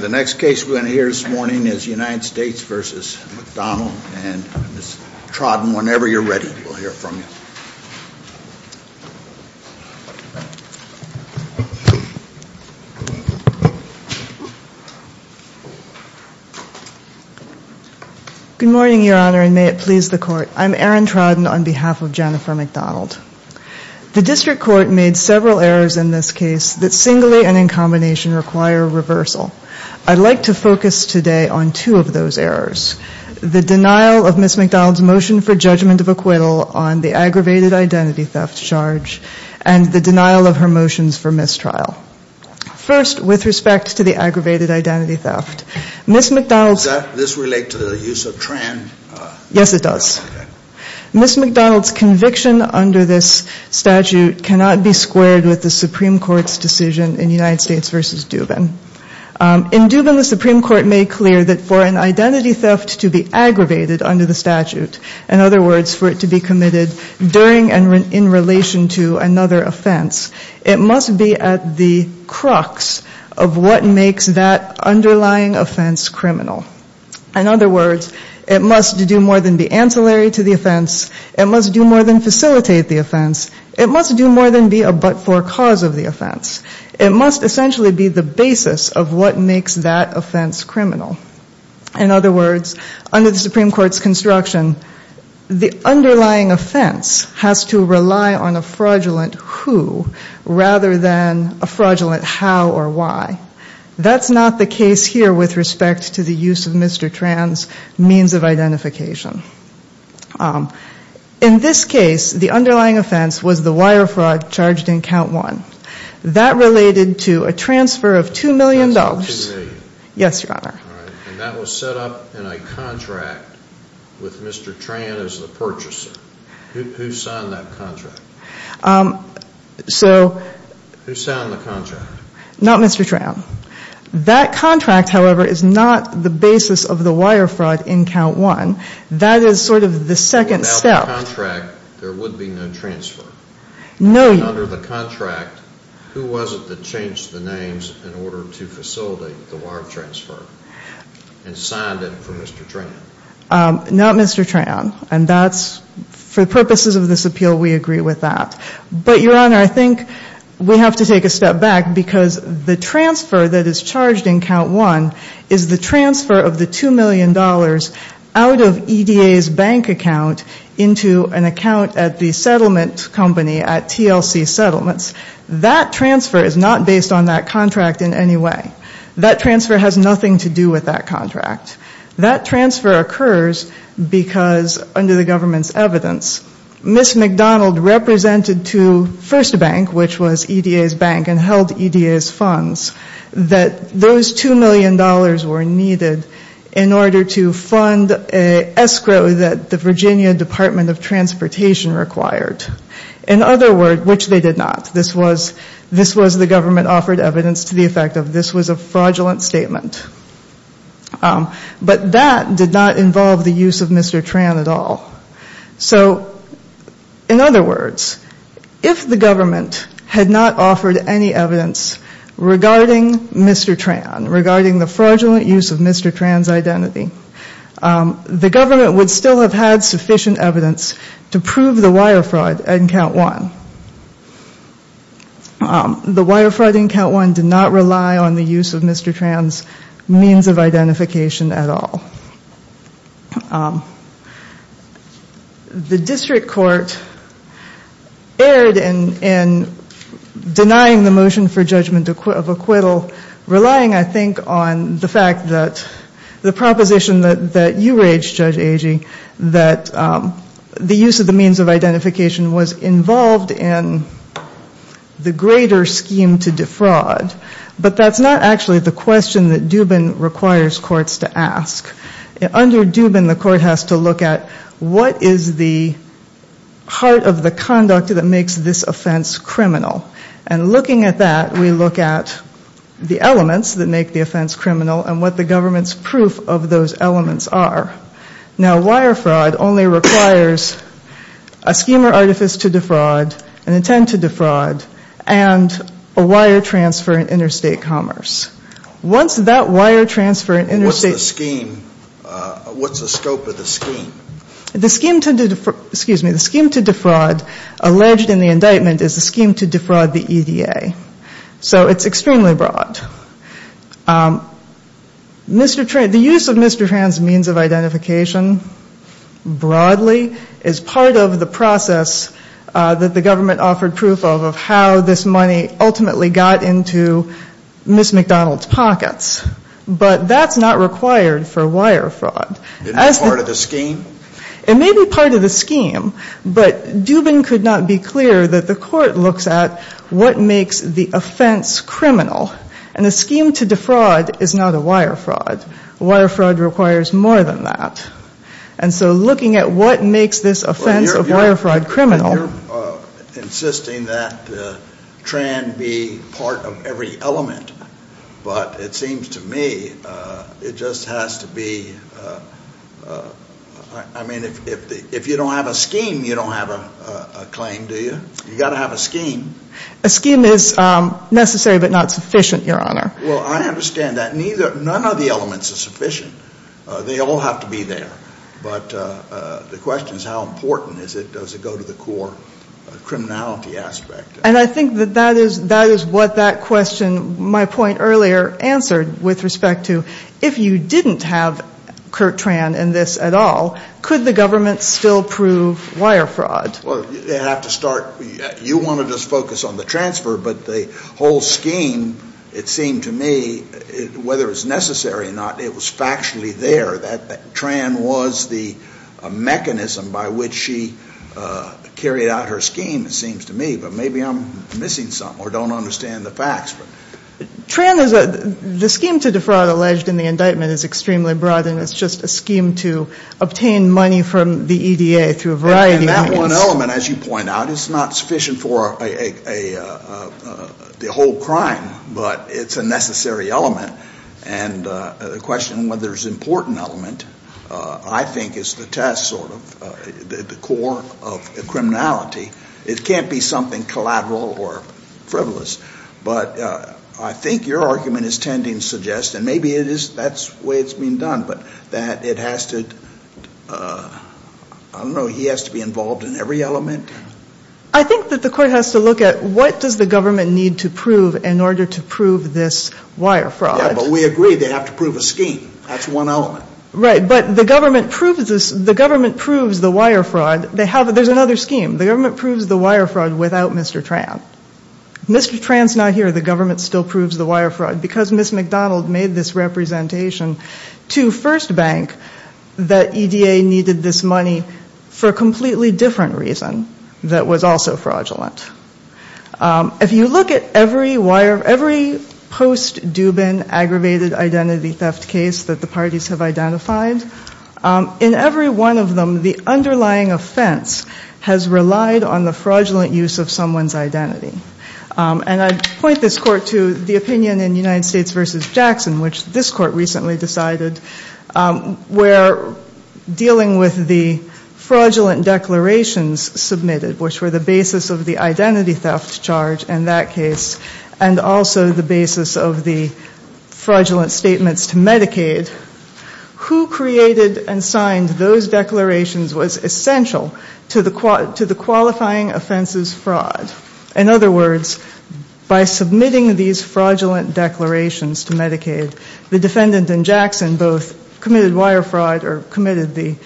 The next case we're going to hear this morning is United States v. McDonald and Ms. Trodden, whenever you're ready, we'll hear from you. Good morning, Your Honor, and may it please the Court. I'm Erin Trodden on behalf of Jennifer McDonald. The District Court made several errors in this case that singly and in combination require reversal. I'd like to focus today on two of those errors, the denial of Ms. McDonald's motion for judgment of acquittal on the aggravated identity theft charge and the denial of her motions for mistrial. First, with respect to the aggravated identity theft, Ms. McDonald's... Does this relate to the use of Tran? Yes, it does. Ms. McDonald's conviction under this statute cannot be squared with the Supreme Court's decision in United States v. Dubin. In Dubin, the Supreme Court made clear that for an identity theft to be aggravated under the statute, in other words, for it to be committed during and in relation to another offense, it must be at the crux of what makes that underlying offense criminal. In other words, it must do more than be ancillary to the offense. It must do more than facilitate the offense. It must do more than be a but-for cause of the offense. It must essentially be the basis of what makes that offense criminal. In other words, under the Supreme Court's construction, the underlying offense has to rely on a fraudulent who rather than a fraudulent how or why. That's not the case here with respect to the use of Mr. Tran's means of identification. In this case, the underlying offense was the wire fraud charged in count one. That related to a transfer of two million dollars. Yes, Your Honor. And that was set up in a contract with Mr. Tran as the purchaser. Who signed that contract? Who signed the contract? Not Mr. Tran. That contract, however, is not the basis of the wire fraud in count one. That is sort of the second step. Without the contract, there would be no transfer. No, Your Honor. And under the contract, who was it that changed the names in order to facilitate the wire transfer and signed it for Mr. Tran? Not Mr. Tran. And that's, for purposes of this appeal, we agree with that. But, Your Honor, I think we have to take a step back because the transfer that is charged in count one is the transfer of the two million dollars out of EDA's bank account into an account at the settlement company at TLC Settlements. That transfer is not based on that contract in any way. That transfer has nothing to do with that contract. That transfer occurs because under the government's evidence, Ms. McDonald represented to First Bank, which was EDA's bank and held EDA's funds, that those two million dollars were needed in order to fund an escrow that the Virginia Department of Transportation required. In other words, which they did not. This was the government offered evidence to the effect of this was a fraudulent statement. But that did not involve the use of Mr. Tran at all. So, in other words, if the government had not offered any evidence regarding Mr. Tran, regarding the fraudulent use of Mr. Tran's identity, the government would still have had sufficient evidence to prove the wire fraud in count one. The wire fraud in count one did not rely on the use of Mr. Tran's means of identification at all. The district court erred in denying the motion for judgment of acquittal, relying, I think, on the fact that the proposition that you raged, Judge Agee, that the use of the means of identification was involved in the greater scheme to defraud. But that's not actually the question that Dubin requires courts to ask. Under Dubin, the court has to look at what is the heart of the conduct that makes this offense criminal. And looking at that, we look at the elements that make the offense criminal and what the government's proof of those elements are. Now, wire fraud only requires a scheme or artifice to defraud, an intent to defraud, and a wire transfer in interstate commerce. What's that wire transfer in interstate commerce? What's the scope of the scheme? The scheme to defraud alleged in the indictment is the scheme to defraud the EDA. So it's extremely broad. Mr. Tran, the use of Mr. Tran's means of identification broadly is part of the process that the government offered proof of, of how this money ultimately got into Ms. McDonald's pockets. But that's not required for wire fraud. Isn't it part of the scheme? It may be part of the scheme, but Dubin could not be clearer that the court looks at what makes the offense criminal. And the scheme to defraud is not a wire fraud. Wire fraud requires more than that. And so looking at what makes this offense of wire fraud criminal. You're insisting that Tran be part of every element, but it seems to me it just has to be, I mean, if you don't have a scheme, you don't have a claim, do you? You've got to have a scheme. A scheme is necessary but not sufficient, Your Honor. Well, I understand that neither, none of the elements are sufficient. They all have to be there. But the question is how important is it? Does it go to the core criminality aspect? And I think that that is, that is what that question, my point earlier, answered with respect to if you didn't have Kurt Tran in this at all, could the government still prove wire fraud? Well, you have to start, you want to just focus on the transfer, but the whole scheme, it seemed to me, whether it's necessary or not, it was factually there. That Tran was the mechanism by which she carried out her scheme, it seems to me. But maybe I'm missing something or don't understand the facts. Tran is a, the scheme to defraud alleged in the indictment is extremely broad and it's just a scheme to obtain money from the EDA through a variety of means. Well, an element, as you point out, is not sufficient for a, the whole crime, but it's a necessary element. And the question whether it's an important element, I think, is the test, sort of, the core of criminality. It can't be something collateral or frivolous. But I think your argument is tending to suggest, and maybe it is, that's the way it's being done, but that it has to, I don't know, he has to be involved in every element. I think that the court has to look at what does the government need to prove in order to prove this wire fraud. Yeah, but we agree they have to prove a scheme. That's one element. Right, but the government proves this, the government proves the wire fraud. They have, there's another scheme. The government proves the wire fraud without Mr. Tran. Mr. Tran's not here, the government still proves the wire fraud. Because Ms. McDonald made this representation to First Bank, that EDA needed this money for a completely different reason that was also fraudulent. If you look at every post-Dubin aggravated identity theft case that the parties have identified, in every one of them, the underlying offense has relied on the fraudulent use of someone's identity. And I point this court to the opinion in United States v. Jackson, which this court recently decided, where dealing with the fraudulent declarations submitted, which were the basis of the identity theft charge in that case, and also the basis of the fraudulent statements to Medicaid, who created and signed those declarations was essential to the qualifying offenses fraud. In other words, by submitting these fraudulent declarations to Medicaid, the defendant in Jackson both committed wire fraud or committed the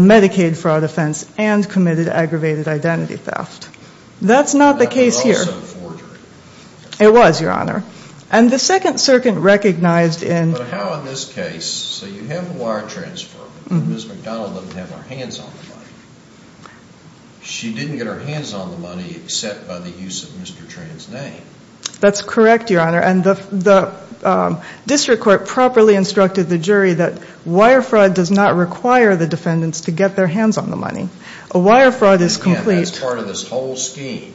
Medicaid fraud offense and committed aggravated identity theft. That's not the case here. That was also forgery. It was, Your Honor. And the Second Circuit recognized in. But how in this case, so you have a wire transfer, Ms. McDonald doesn't have her hands on the money. She didn't get her hands on the money except by the use of Mr. Tran's name. That's correct, Your Honor. And the district court properly instructed the jury that wire fraud does not require the defendants to get their hands on the money. A wire fraud is complete. Again, that's part of this whole scheme.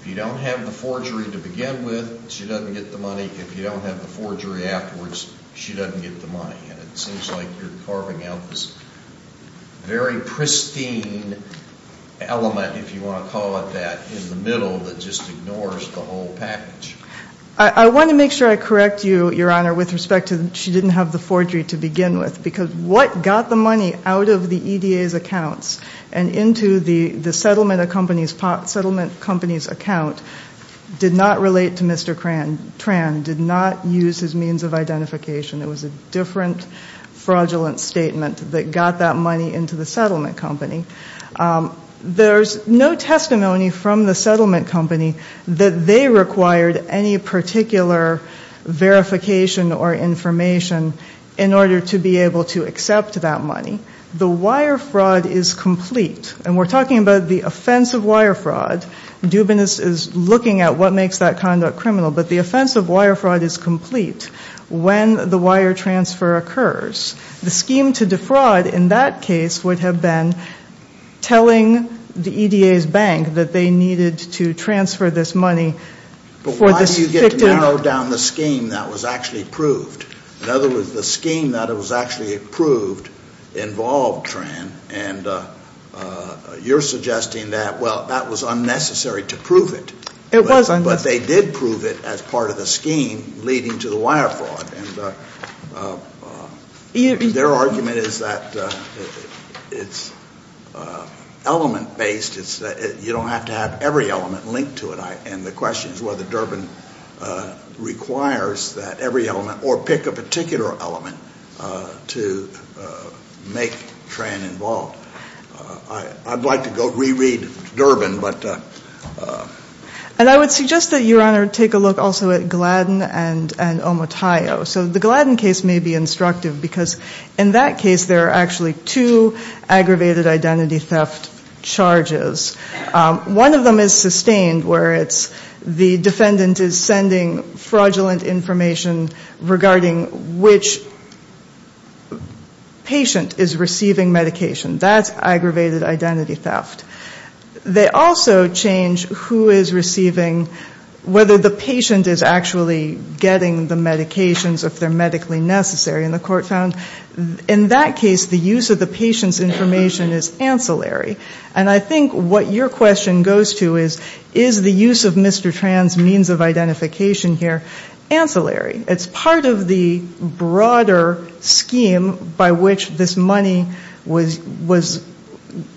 If you don't have the forgery to begin with, she doesn't get the money. If you don't have the forgery afterwards, she doesn't get the money. And it seems like you're carving out this very pristine element, if you want to call it that, in the middle that just ignores the whole package. I want to make sure I correct you, Your Honor, with respect to she didn't have the forgery to begin with. Because what got the money out of the EDA's accounts and into the settlement company's account did not relate to Mr. Tran. Mr. Tran did not use his means of identification. It was a different fraudulent statement that got that money into the settlement company. There's no testimony from the settlement company that they required any particular verification or information in order to be able to accept that money. The wire fraud is complete. And we're talking about the offense of wire fraud. Dubinis is looking at what makes that conduct criminal. But the offense of wire fraud is complete when the wire transfer occurs. The scheme to defraud in that case would have been telling the EDA's bank that they needed to transfer this money for this faked out... But why do you get to narrow down the scheme that was actually approved? In other words, the scheme that was actually approved involved Tran. And you're suggesting that, well, that was unnecessary to prove it. But they did prove it as part of the scheme leading to the wire fraud. Their argument is that it's element-based. You don't have to have every element linked to it. And the question is whether Durbin requires that every element or pick a particular element to make Tran involved. I'd like to go reread Durbin, but... And I would suggest that Your Honor take a look also at Gladden and Omotayo. So the Gladden case may be instructive because in that case there are actually two aggravated identity theft charges. One of them is sustained where the defendant is sending fraudulent information regarding which patient is receiving medication. That's aggravated identity theft. They also change who is receiving, whether the patient is actually getting the medications if they're medically necessary. And the court found in that case the use of the patient's information is ancillary. And I think what your question goes to is, is the use of Mr. Tran's means of identification here ancillary? It's part of the broader scheme by which this money was,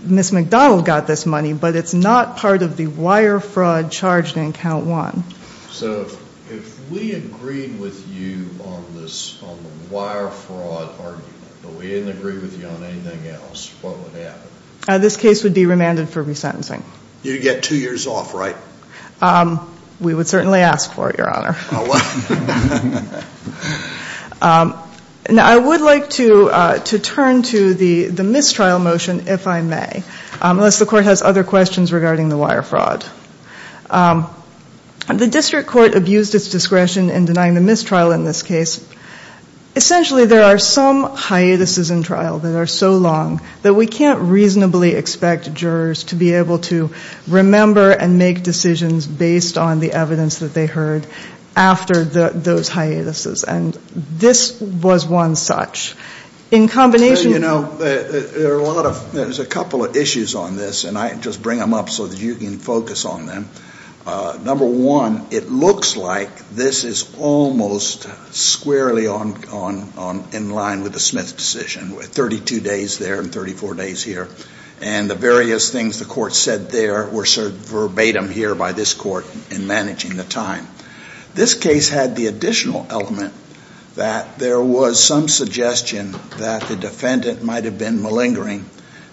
Ms. McDonald got this money, but it's not part of the wire fraud charged in count one. So if we agreed with you on this, on the wire fraud argument, but we didn't agree with you on anything else, what would happen? The case would be remanded for resentencing. You'd get two years off, right? We would certainly ask for it, Your Honor. Now I would like to turn to the mistrial motion, if I may, unless the court has other questions regarding the wire fraud. The district court abused its discretion in denying the mistrial in this case. Essentially there are some hiatuses in trial that are so long that we can't reasonably expect jurors to be able to remember and make decisions based on the evidence that they heard after those hiatuses. And this was one such. There's a couple of issues on this, and I just bring them up so that you can focus on them. Number one, it looks like this is almost squarely in line with the Smith decision, with 32 days there and 34 days here. And the various things the court said there were sort of verbatim here by this court in managing the time. This case had the additional element that there was some suggestion that the defendant might have been malingering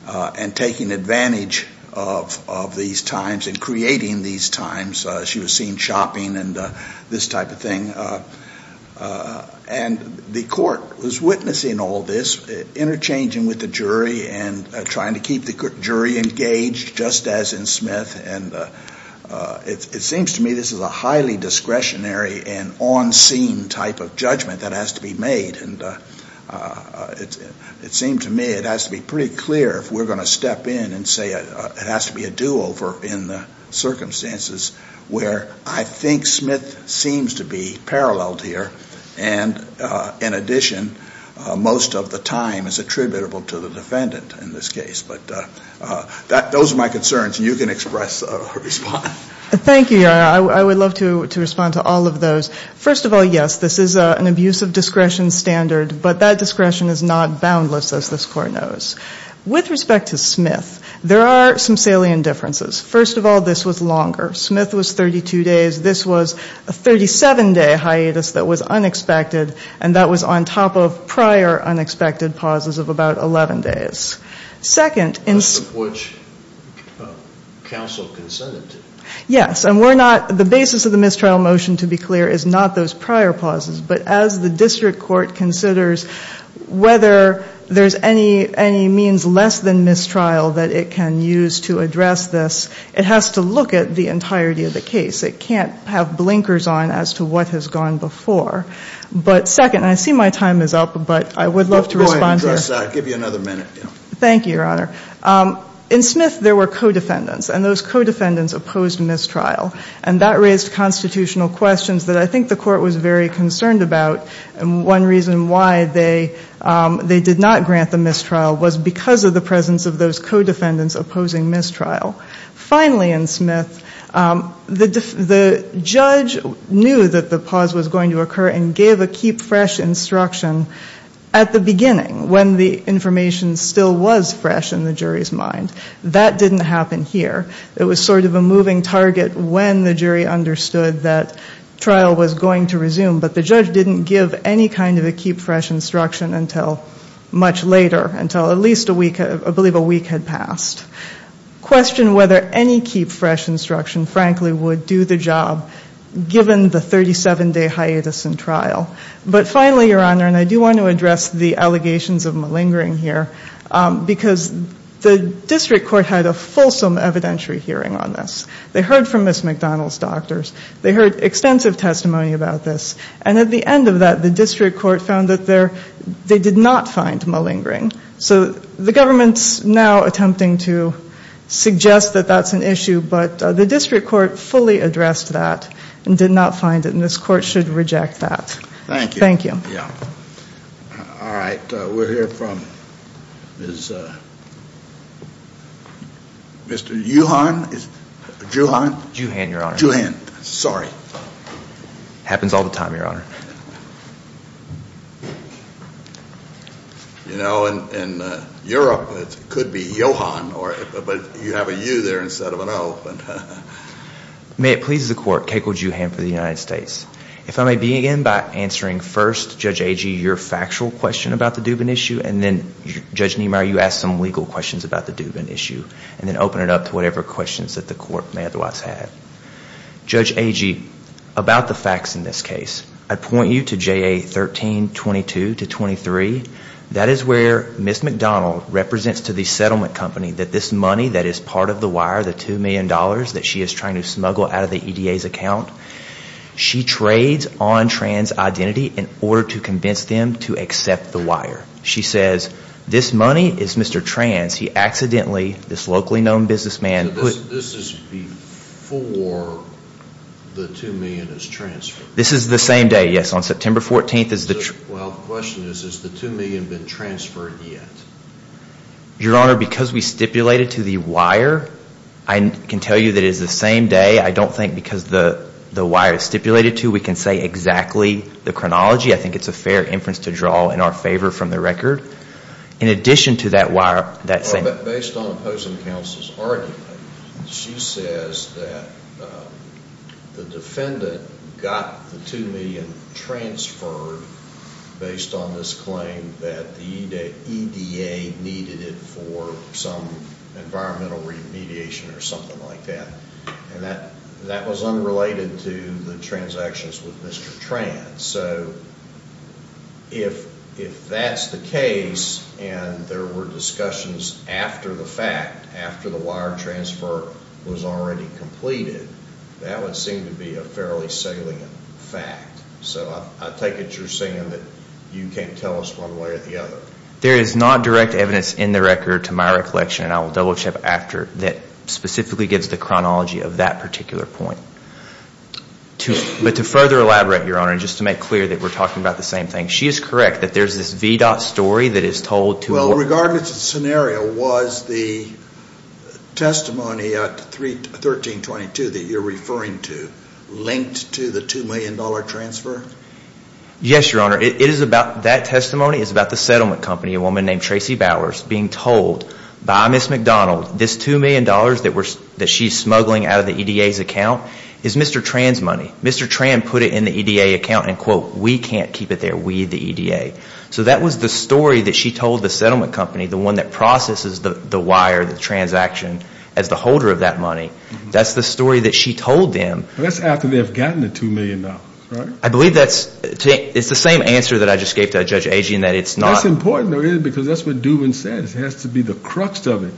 and taking advantage of these times and creating these hiatuses. She was seen shopping and this type of thing. And the court was witnessing all this, interchanging with the jury and trying to keep the jury engaged, just as in Smith. And it seems to me this is a highly discretionary and on-scene type of judgment that has to be made. And it seemed to me it has to be pretty clear if we're going to step in and say it has to be a do-over in the circumstances. Where I think Smith seems to be paralleled here, and in addition, most of the time is attributable to the defendant in this case. But those are my concerns, and you can express or respond. Thank you. I would love to respond to all of those. First of all, yes, this is an abuse of discretion standard, but that discretion is not boundless, as this court knows. With respect to Smith, there are some salient differences. First of all, this was longer. Smith was 32 days. This was a 37-day hiatus that was unexpected, and that was on top of prior unexpected pauses of about 11 days. Yes, and the basis of the mistrial motion, to be clear, is not those prior pauses. It means less than mistrial that it can use to address this. It has to look at the entirety of the case. It can't have blinkers on as to what has gone before. But second, and I see my time is up, but I would love to respond here. I'll give you another minute. Thank you, Your Honor. In Smith, there were co-defendants, and those co-defendants opposed mistrial. And that raised constitutional questions that I think the court was very concerned about. And one reason why they did not grant the mistrial was because of the presence of those co-defendants opposing mistrial. Finally, in Smith, the judge knew that the pause was going to occur and gave a keep-fresh instruction at the beginning, when the information still was fresh in the jury's mind. That didn't happen here. It was sort of a moving target when the jury understood that trial was going to resume. But the judge didn't give any kind of a keep-fresh instruction until much later, until at least I believe a week had passed. Questioned whether any keep-fresh instruction, frankly, would do the job, given the 37-day hiatus in trial. But finally, Your Honor, and I do want to address the allegations of malingering here, because the district court had a fulsome evidentiary hearing on this. They heard from Ms. McDonald's doctors. They heard extensive testimony about this. And at the end of that, the district court found that they did not find malingering. So the government's now attempting to suggest that that's an issue, but the district court fully addressed that and did not find it, and this court should reject that. Thank you. All right. We'll hear from Mr. Juhand. It happens all the time, Your Honor. In Europe, it could be Johan, but you have a U there instead of an O. May it please the court, Keiko Juhand for the United States. If I may begin by answering first, Judge Agee, your factual question about the Dubin issue, and then, Judge Niemeyer, you asked some legal questions about the Dubin issue, and then open it up to whatever questions that the court may otherwise have. Judge Agee, about the facts in this case, I'd point you to JA 1322-23. That is where Ms. McDonald represents to the settlement company that this money that is part of the wire, the $2 million that she is trying to smuggle out of the EDA's account, she trades on trans identity in order to convince them to accept the wire. She says, this money is Mr. Trans. He accidentally, this locally known businessman. This is before the $2 million is transferred. This is the same day, yes, on September 14th. Well, the question is, has the $2 million been transferred yet? Your Honor, because we stipulated to the wire, I can tell you that it is the same day. I don't think because the wire is stipulated to, we can say exactly the chronology. I think it is a fair inference to draw in our favor from the record. Based on opposing counsel's argument, she says that the defendant got the $2 million transferred based on this claim that the EDA needed it for some environmental remediation or something like that. And that was unrelated to the transactions with Mr. Trans. So if that's the case and there were discussions after the fact, after the wire transfer was already completed, that would seem to be a fairly salient fact. So I take it you're saying that you can't tell us one way or the other. There is not direct evidence in the record to my recollection, and I will double-check after, that specifically gives the chronology of that particular point. But to further elaborate, Your Honor, and just to make clear that we're talking about the same thing, she is correct that there's this VDOT story that is told to... Well, regardless of the scenario, was the testimony at 1322 that you're referring to linked to the $2 million transfer? Yes, Your Honor. That testimony is about the settlement company, a woman named Tracy Bowers, being told by Ms. McDonald this $2 million that she's smuggling out of the EDA's account is Mr. Trans' money. Mr. Trans put it in the EDA account and, quote, we can't keep it there. We, the EDA. So that was the story that she told the settlement company, the one that processes the wire, the transaction, as the holder of that money. That's the story that she told them. That's after they've gotten the $2 million, right? I believe that's, it's the same answer that I just gave to Judge Agee in that it's not... That's important, because that's what Dubin says. It has to be the crux of it.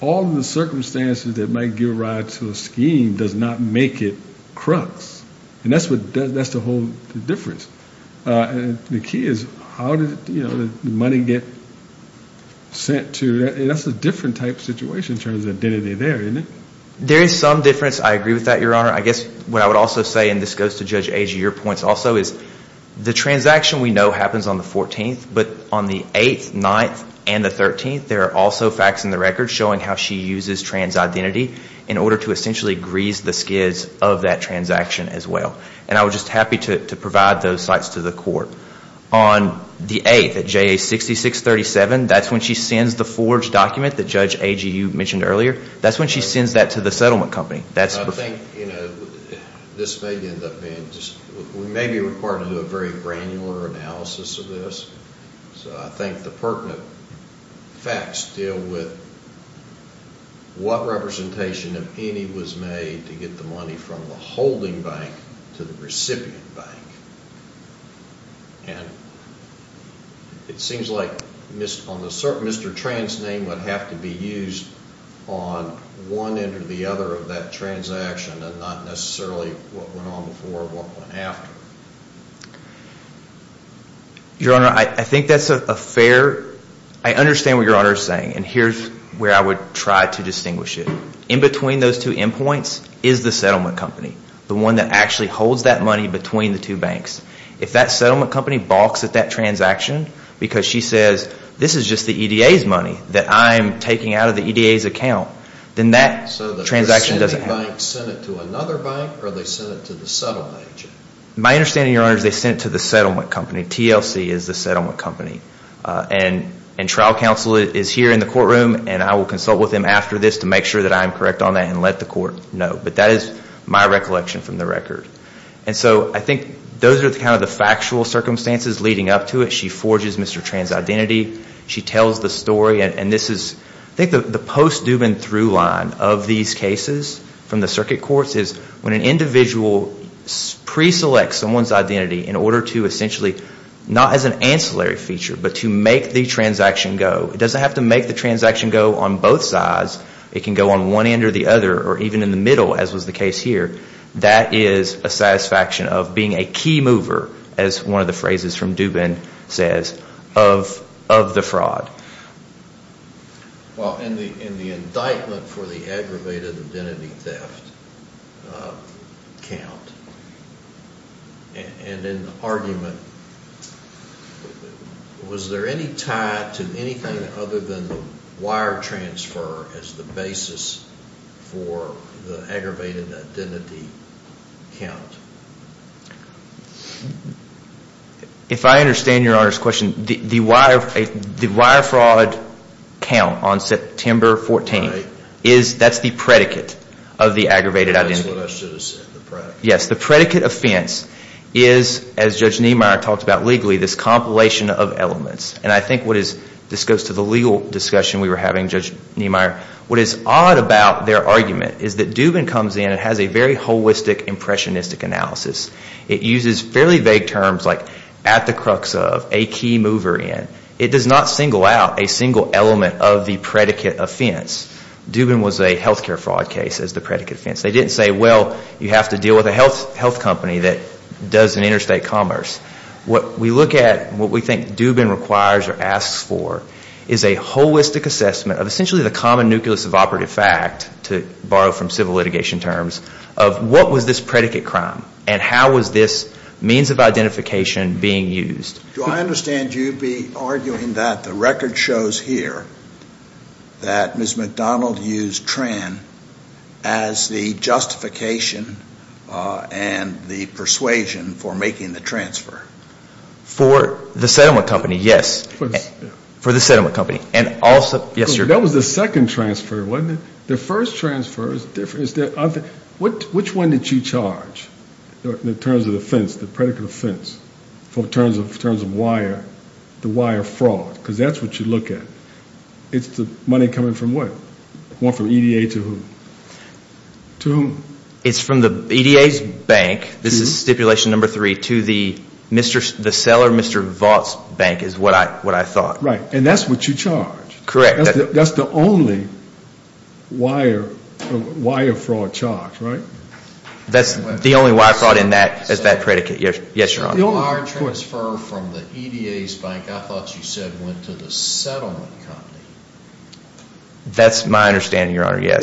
All of the circumstances that might give rise to a scheme does not make it crux. And that's the whole difference. The key is how did the money get sent to, and that's a different type of situation in terms of the identity there, isn't it? There is some difference. I agree with that, Your Honor. I guess what I would also say, and this goes to Judge Agee, your points also, is the transaction we know happens on the 14th, but on the 8th, 9th, and the 13th, there are also facts in the record showing how she uses trans identity in order to essentially grease the skids of that transaction as well. And I was just happy to provide those sites to the court. On the 8th at JA 6637, that's when she sends the forged document that Judge Agee, you mentioned earlier, that's when she sends that to the settlement company. I think this may end up being, we may be required to do a very granular analysis of this. So I think the pertinent facts deal with what representation, if any, was made to get the money from the holding bank to the recipient bank. And it seems like Mr. Tran's name would have to be used on one end or the other of that transaction and not necessarily what went on before or what went after. Your Honor, I think that's a fair, I understand what Your Honor is saying, and here's where I would try to distinguish it. The one in between those two endpoints is the settlement company. The one that actually holds that money between the two banks. If that settlement company balks at that transaction because she says this is just the EDA's money that I'm taking out of the EDA's account, then that transaction doesn't happen. So the recipient bank sent it to another bank or they sent it to the settlement agent? My understanding, Your Honor, is they sent it to the settlement company. TLC is the settlement company. And trial counsel is here in the courtroom and I will consult with them after this to make sure that I am correct on that and let the court know. But that is my recollection from the record. And so I think those are kind of the factual circumstances leading up to it. She forges Mr. Tran's identity. I think the post-Dubin through line of these cases from the circuit courts is when an individual pre-selects someone's identity in order to essentially, not as an ancillary feature, but to make the transaction go. It doesn't have to make the transaction go on both sides. It can go on one end or the other or even in the middle as was the case here. That is a satisfaction of being a key mover, as one of the phrases from Dubin says, of the fraud. Well, in the indictment for the aggravated identity theft account, and in the argument, was there any tie to anything other than the wire transfer as the basis for the aggravated identity theft? If I understand your Honor's question, the wire fraud count on September 14th, that is the predicate of the aggravated identity theft. Yes, the predicate offense is, as Judge Niemeyer talked about legally, this compilation of elements. And I think this goes to the legal discussion we were having, Judge Niemeyer. What is odd about their argument is that Dubin comes in and has a very holistic impressionistic analysis. It uses fairly vague terms like at the crux of, a key mover in. It does not single out a single element of the predicate offense. Dubin was a healthcare fraud case as the predicate offense. They didn't say, well, you have to deal with a health company that does an interstate commerce. What we look at, what we think Dubin requires or asks for is a holistic assessment of essentially the common nucleus of operative fact, to borrow from civil litigation terms, of what was this predicate crime and how was this means of identification being used. Do I understand you be arguing that the record shows here that Ms. McDonald used Tran as the justification and the persuasion for making the transfer? For the settlement company, yes. That was the second transfer, wasn't it? The first transfer is different. Which one did you charge in terms of the fence, the predicate offense, in terms of wire, the wire fraud? Because that's what you look at. It's the money coming from what? It's from the EDA's bank. This is stipulation number three to the seller, Mr. Vaught's bank, is what I thought. Right. And that's what you charge. That's the only wire fraud charge, right? That's the only wire fraud in that, is that predicate. The wire transfer from the EDA's bank, I thought you said went to the settlement company. That's my understanding, Your Honor, yes.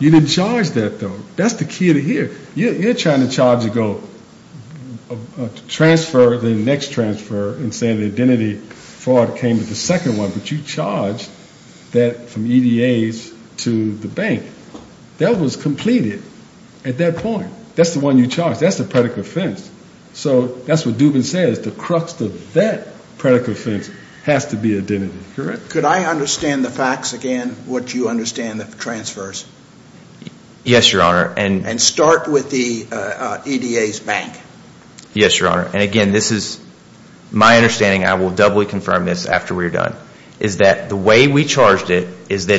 You didn't charge that, though. That's the key to here. You're trying to transfer the next transfer and say the identity fraud came with the second one. But you charged that from EDA's to the bank. That was completed at that point. That's the one you charged. That's the predicate offense. So that's what Dubin says. The crux of that predicate offense has to be identity, correct? Could I understand the facts again, what you understand the transfers? Yes, Your Honor. And start with the EDA's bank. Yes, Your Honor. And again, this is my understanding. I will doubly confirm this after we're done. Is that the way we charged it is that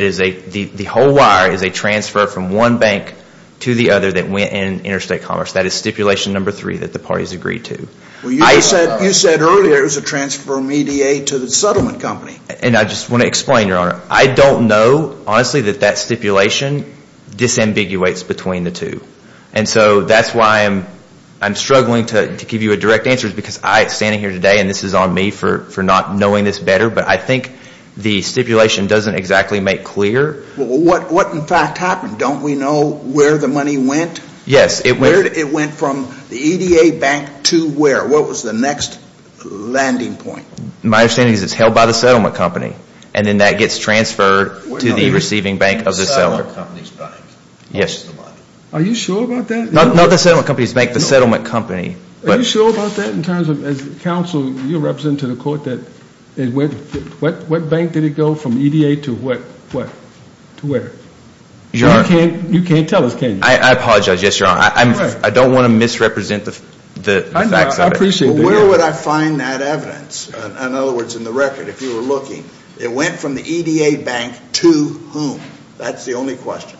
the whole wire is a transfer from one bank to the other that went in Interstate Commerce. That is stipulation number three that the parties agreed to. You said earlier it was a transfer from EDA to the settlement company. And I just want to explain, Your Honor. I don't know, honestly, that that stipulation disambiguates between the two. And so that's why I'm struggling to give you a direct answer because I'm standing here today and this is on me for not knowing this better. But I think the stipulation doesn't exactly make clear. Well, what in fact happened? Don't we know where the money went? Yes. It went from the EDA bank to where? What was the next landing point? My understanding is it's held by the settlement company. And then that gets transferred to the receiving bank of the seller. Not the settlement company's bank. Yes. Are you sure about that? Not the settlement company's bank, the settlement company. Are you sure about that in terms of as counsel, you represent to the court that it went, what bank did it go from EDA to what? To where? You can't tell us, can you? I apologize. Yes, Your Honor. I don't want to misrepresent the facts of it. I know. I appreciate that. Well, where would I find that evidence? In other words, in the record, if you were looking, it went from the EDA bank to whom? That's the only question.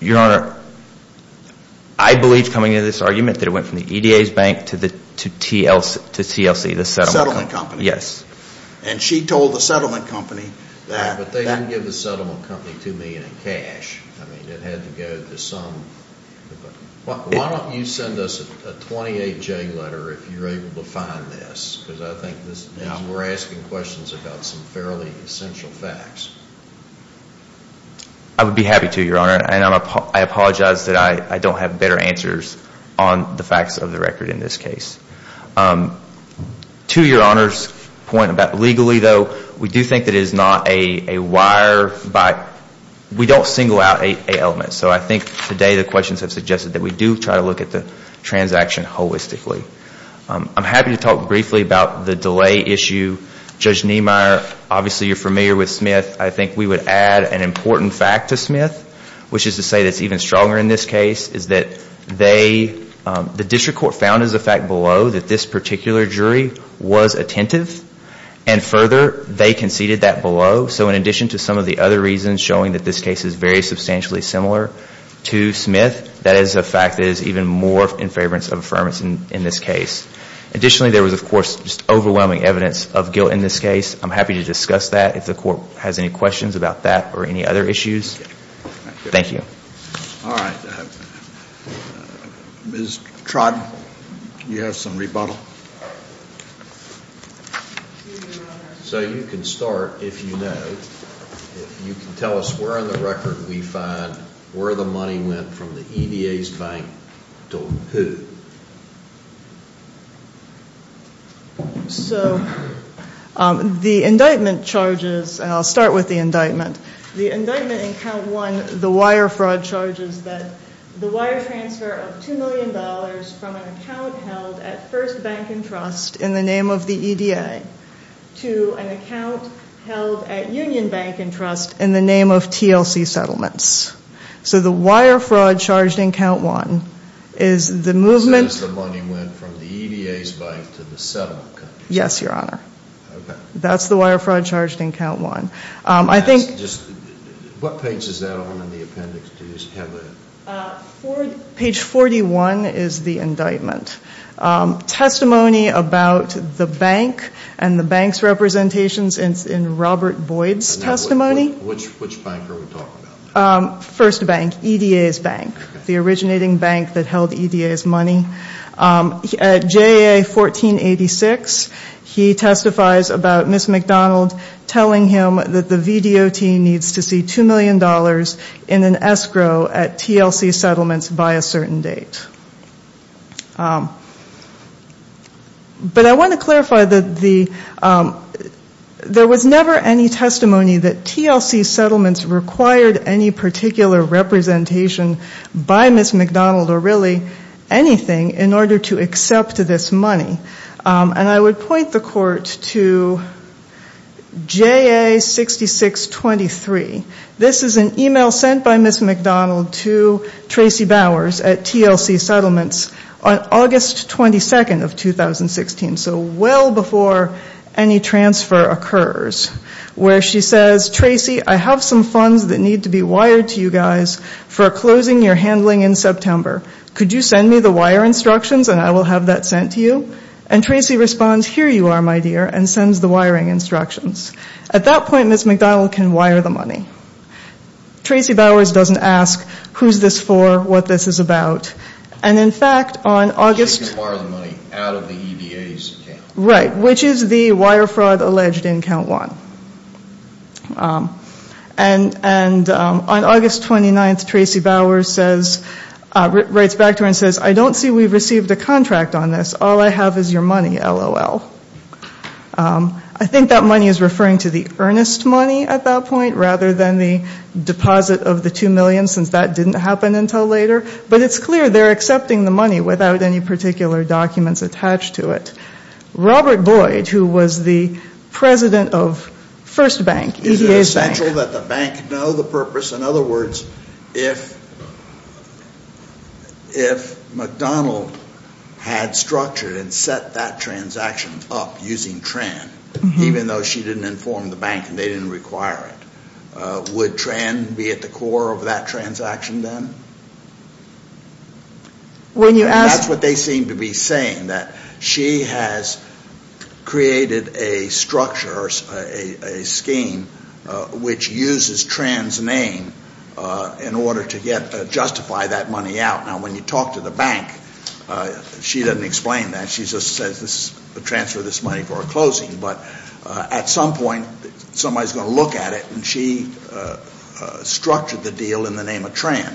Your Honor, I believe coming into this argument that it went from the EDA's bank to TLC, the settlement company. Yes. And she told the settlement company that. But they didn't give the settlement company two million in cash. I mean, it had to go to some. Why don't you send us a 28-J letter if you're able to find this? Because I think we're asking questions about some fairly essential facts. I would be happy to, Your Honor. And I apologize that I don't have better answers on the facts of the record in this case. To Your Honor's point about legally, though, we do think that it is not a wire, but we don't single out a element. So I think today the questions have suggested that we do try to look at the transaction holistically. I'm happy to talk briefly about the delay issue. Judge Niemeyer, obviously you're familiar with Smith. I think we would add an important fact to Smith, which is to say that's even stronger in this case, is that the district court found as a fact below that this particular jury was attentive. And further, they conceded that below. So in addition to some of the other reasons showing that this case is very substantially similar to Smith, that is a fact that is even more in favor of affirmation in this case. Additionally, there was, of course, just overwhelming evidence of guilt in this case. I'm happy to discuss that if the court has any questions about that or any other issues. Thank you. All right. Ms. Trodd, do you have some rebuttal? So you can start if you know. If you can tell us where on the record we find where the money went from the EDA's bank to who. So the indictment charges, and I'll start with the indictment. The indictment in count one, the wire fraud charges, that the wire transfer of $2 million from an account held at First Bank & Trust in the name of the EDA to an account held at Union Bank & Trust in the name of TLC Settlements. So the wire fraud charged in count one is the movement. So that's the money went from the EDA's bank to the settlement company. Yes, Your Honor. Okay. That's the wire fraud charged in count one. What page is that on in the appendix? Page 41 is the indictment. Testimony about the bank and the bank's representations in Robert Boyd's testimony. Which bank are we talking about? First Bank, EDA's bank, the originating bank that held EDA's money. At JAA 1486, he testifies about Ms. McDonald telling him that the VDOT needs to see $2 million in an escrow at TLC Settlements by a certain date. But I want to clarify that there was never any testimony that TLC Settlements required any particular representation by Ms. McDonald or really anything in order to accept this money. And I would point the court to JAA 6623. This is an email sent by Ms. McDonald to Tracy Bowers at TLC Settlements on August 22nd of 2016, so well before any transfer occurs, where she says, Tracy, I have some funds that need to be wired to you guys for closing your handling in September. Could you send me the wire instructions and I will have that sent to you? And Tracy responds, here you are, my dear, and sends the wiring instructions. At that point, Ms. McDonald can wire the money. Tracy Bowers doesn't ask who's this for, what this is about. And in fact, on August... She can wire the money out of the EDA's account. Right, which is the wire fraud alleged in count one. And on August 29th, Tracy Bowers writes back to her and says, I don't see we've received a contract on this. All I have is your money, LOL. I think that money is referring to the earnest money at that point, rather than the deposit of the two million, since that didn't happen until later. But it's clear they're accepting the money without any particular documents attached to it. Robert Boyd, who was the president of First Bank, EDA's bank... Is it essential that the bank know the purpose? In other words, if McDonald had structured and set that transaction up using TRAN, even though she didn't inform the bank and they didn't require it, would TRAN be at the core of that transaction then? That's what they seem to be saying, that she has created a structure, a scheme, which uses TRAN's name in order to justify that money out. Now, when you talk to the bank, she doesn't explain that. She just says, transfer this money for a closing. But at some point, somebody's going to look at it, and she structured the deal in the name of TRAN.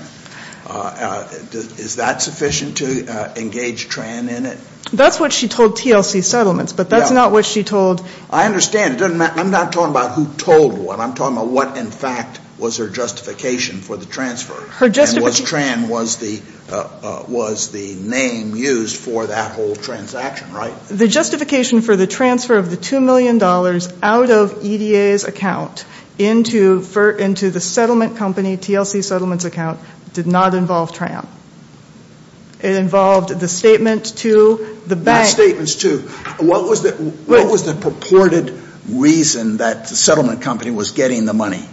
Is that sufficient to engage TRAN in it? That's what she told TLC Settlements, but that's not what she told... I understand. I'm not talking about who told what. I'm talking about what, in fact, was her justification for the transfer. And was TRAN the name used for that whole transaction, right? The justification for the transfer of the $2 million out of EDA's account into the settlement company, TLC Settlements' account, did not involve TRAN. It involved the statement to the bank. Not statements to. What was the purported reason that the settlement company was getting the money?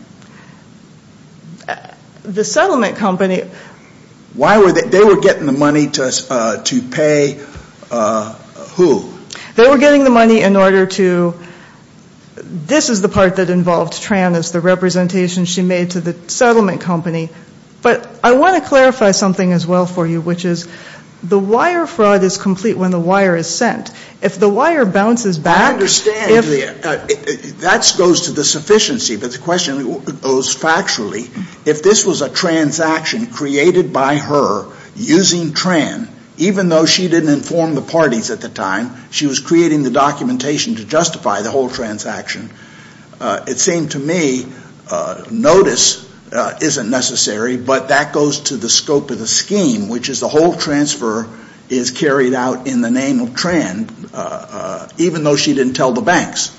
The settlement company... They were getting the money to pay who? They were getting the money in order to... This is the part that involved TRAN as the representation she made to the settlement company. But I want to clarify something as well for you, which is the wire fraud is complete when the wire is sent. If the wire bounces back... I understand. That goes to the sufficiency. But the question goes factually. If this was a transaction created by her using TRAN, even though she didn't inform the parties at the time, she was creating the documentation to justify the whole transaction. It seemed to me notice isn't necessary, but that goes to the scope of the scheme, which is the whole transfer is carried out in the name of TRAN, even though she didn't tell the banks.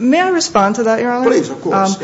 May I respond to that, Your Honor? Please, of course.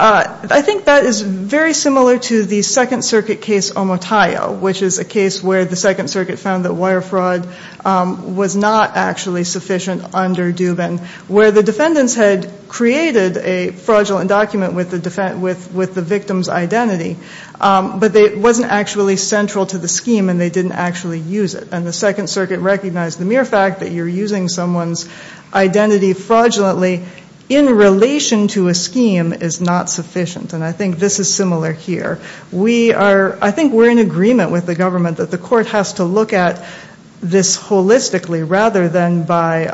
I think that is very similar to the Second Circuit case Omotayo, which is a case where the Second Circuit found that wire fraud was not actually sufficient under Dubin, where the defendants had created a fraudulent document with the victim's identity, but it wasn't actually central to the scheme and they didn't actually use it. And the Second Circuit recognized the mere fact that you're using someone's identity fraudulently in relation to a scheme is not sufficient. And I think this is similar here. I think we're in agreement with the government that the court has to look at this holistically rather than by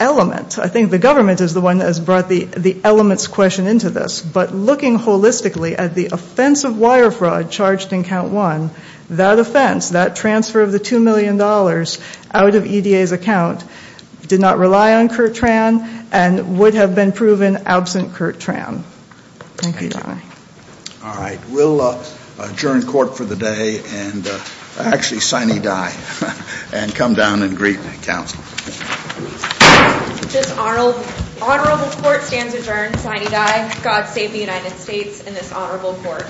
element. I think the government is the one that has brought the elements question into this. But looking holistically at the offense of wire fraud charged in Count 1, that offense, that transfer of the $2 million out of EDA's account, did not rely on Curt TRAN and would have been proven absent Curt TRAN. Thank you, Your Honor. All right. We'll adjourn court for the day and actually sign E.D.I. and come down and greet counsel. This honorable court stands adjourned. Sign E.D.I. God save the United States and this honorable court.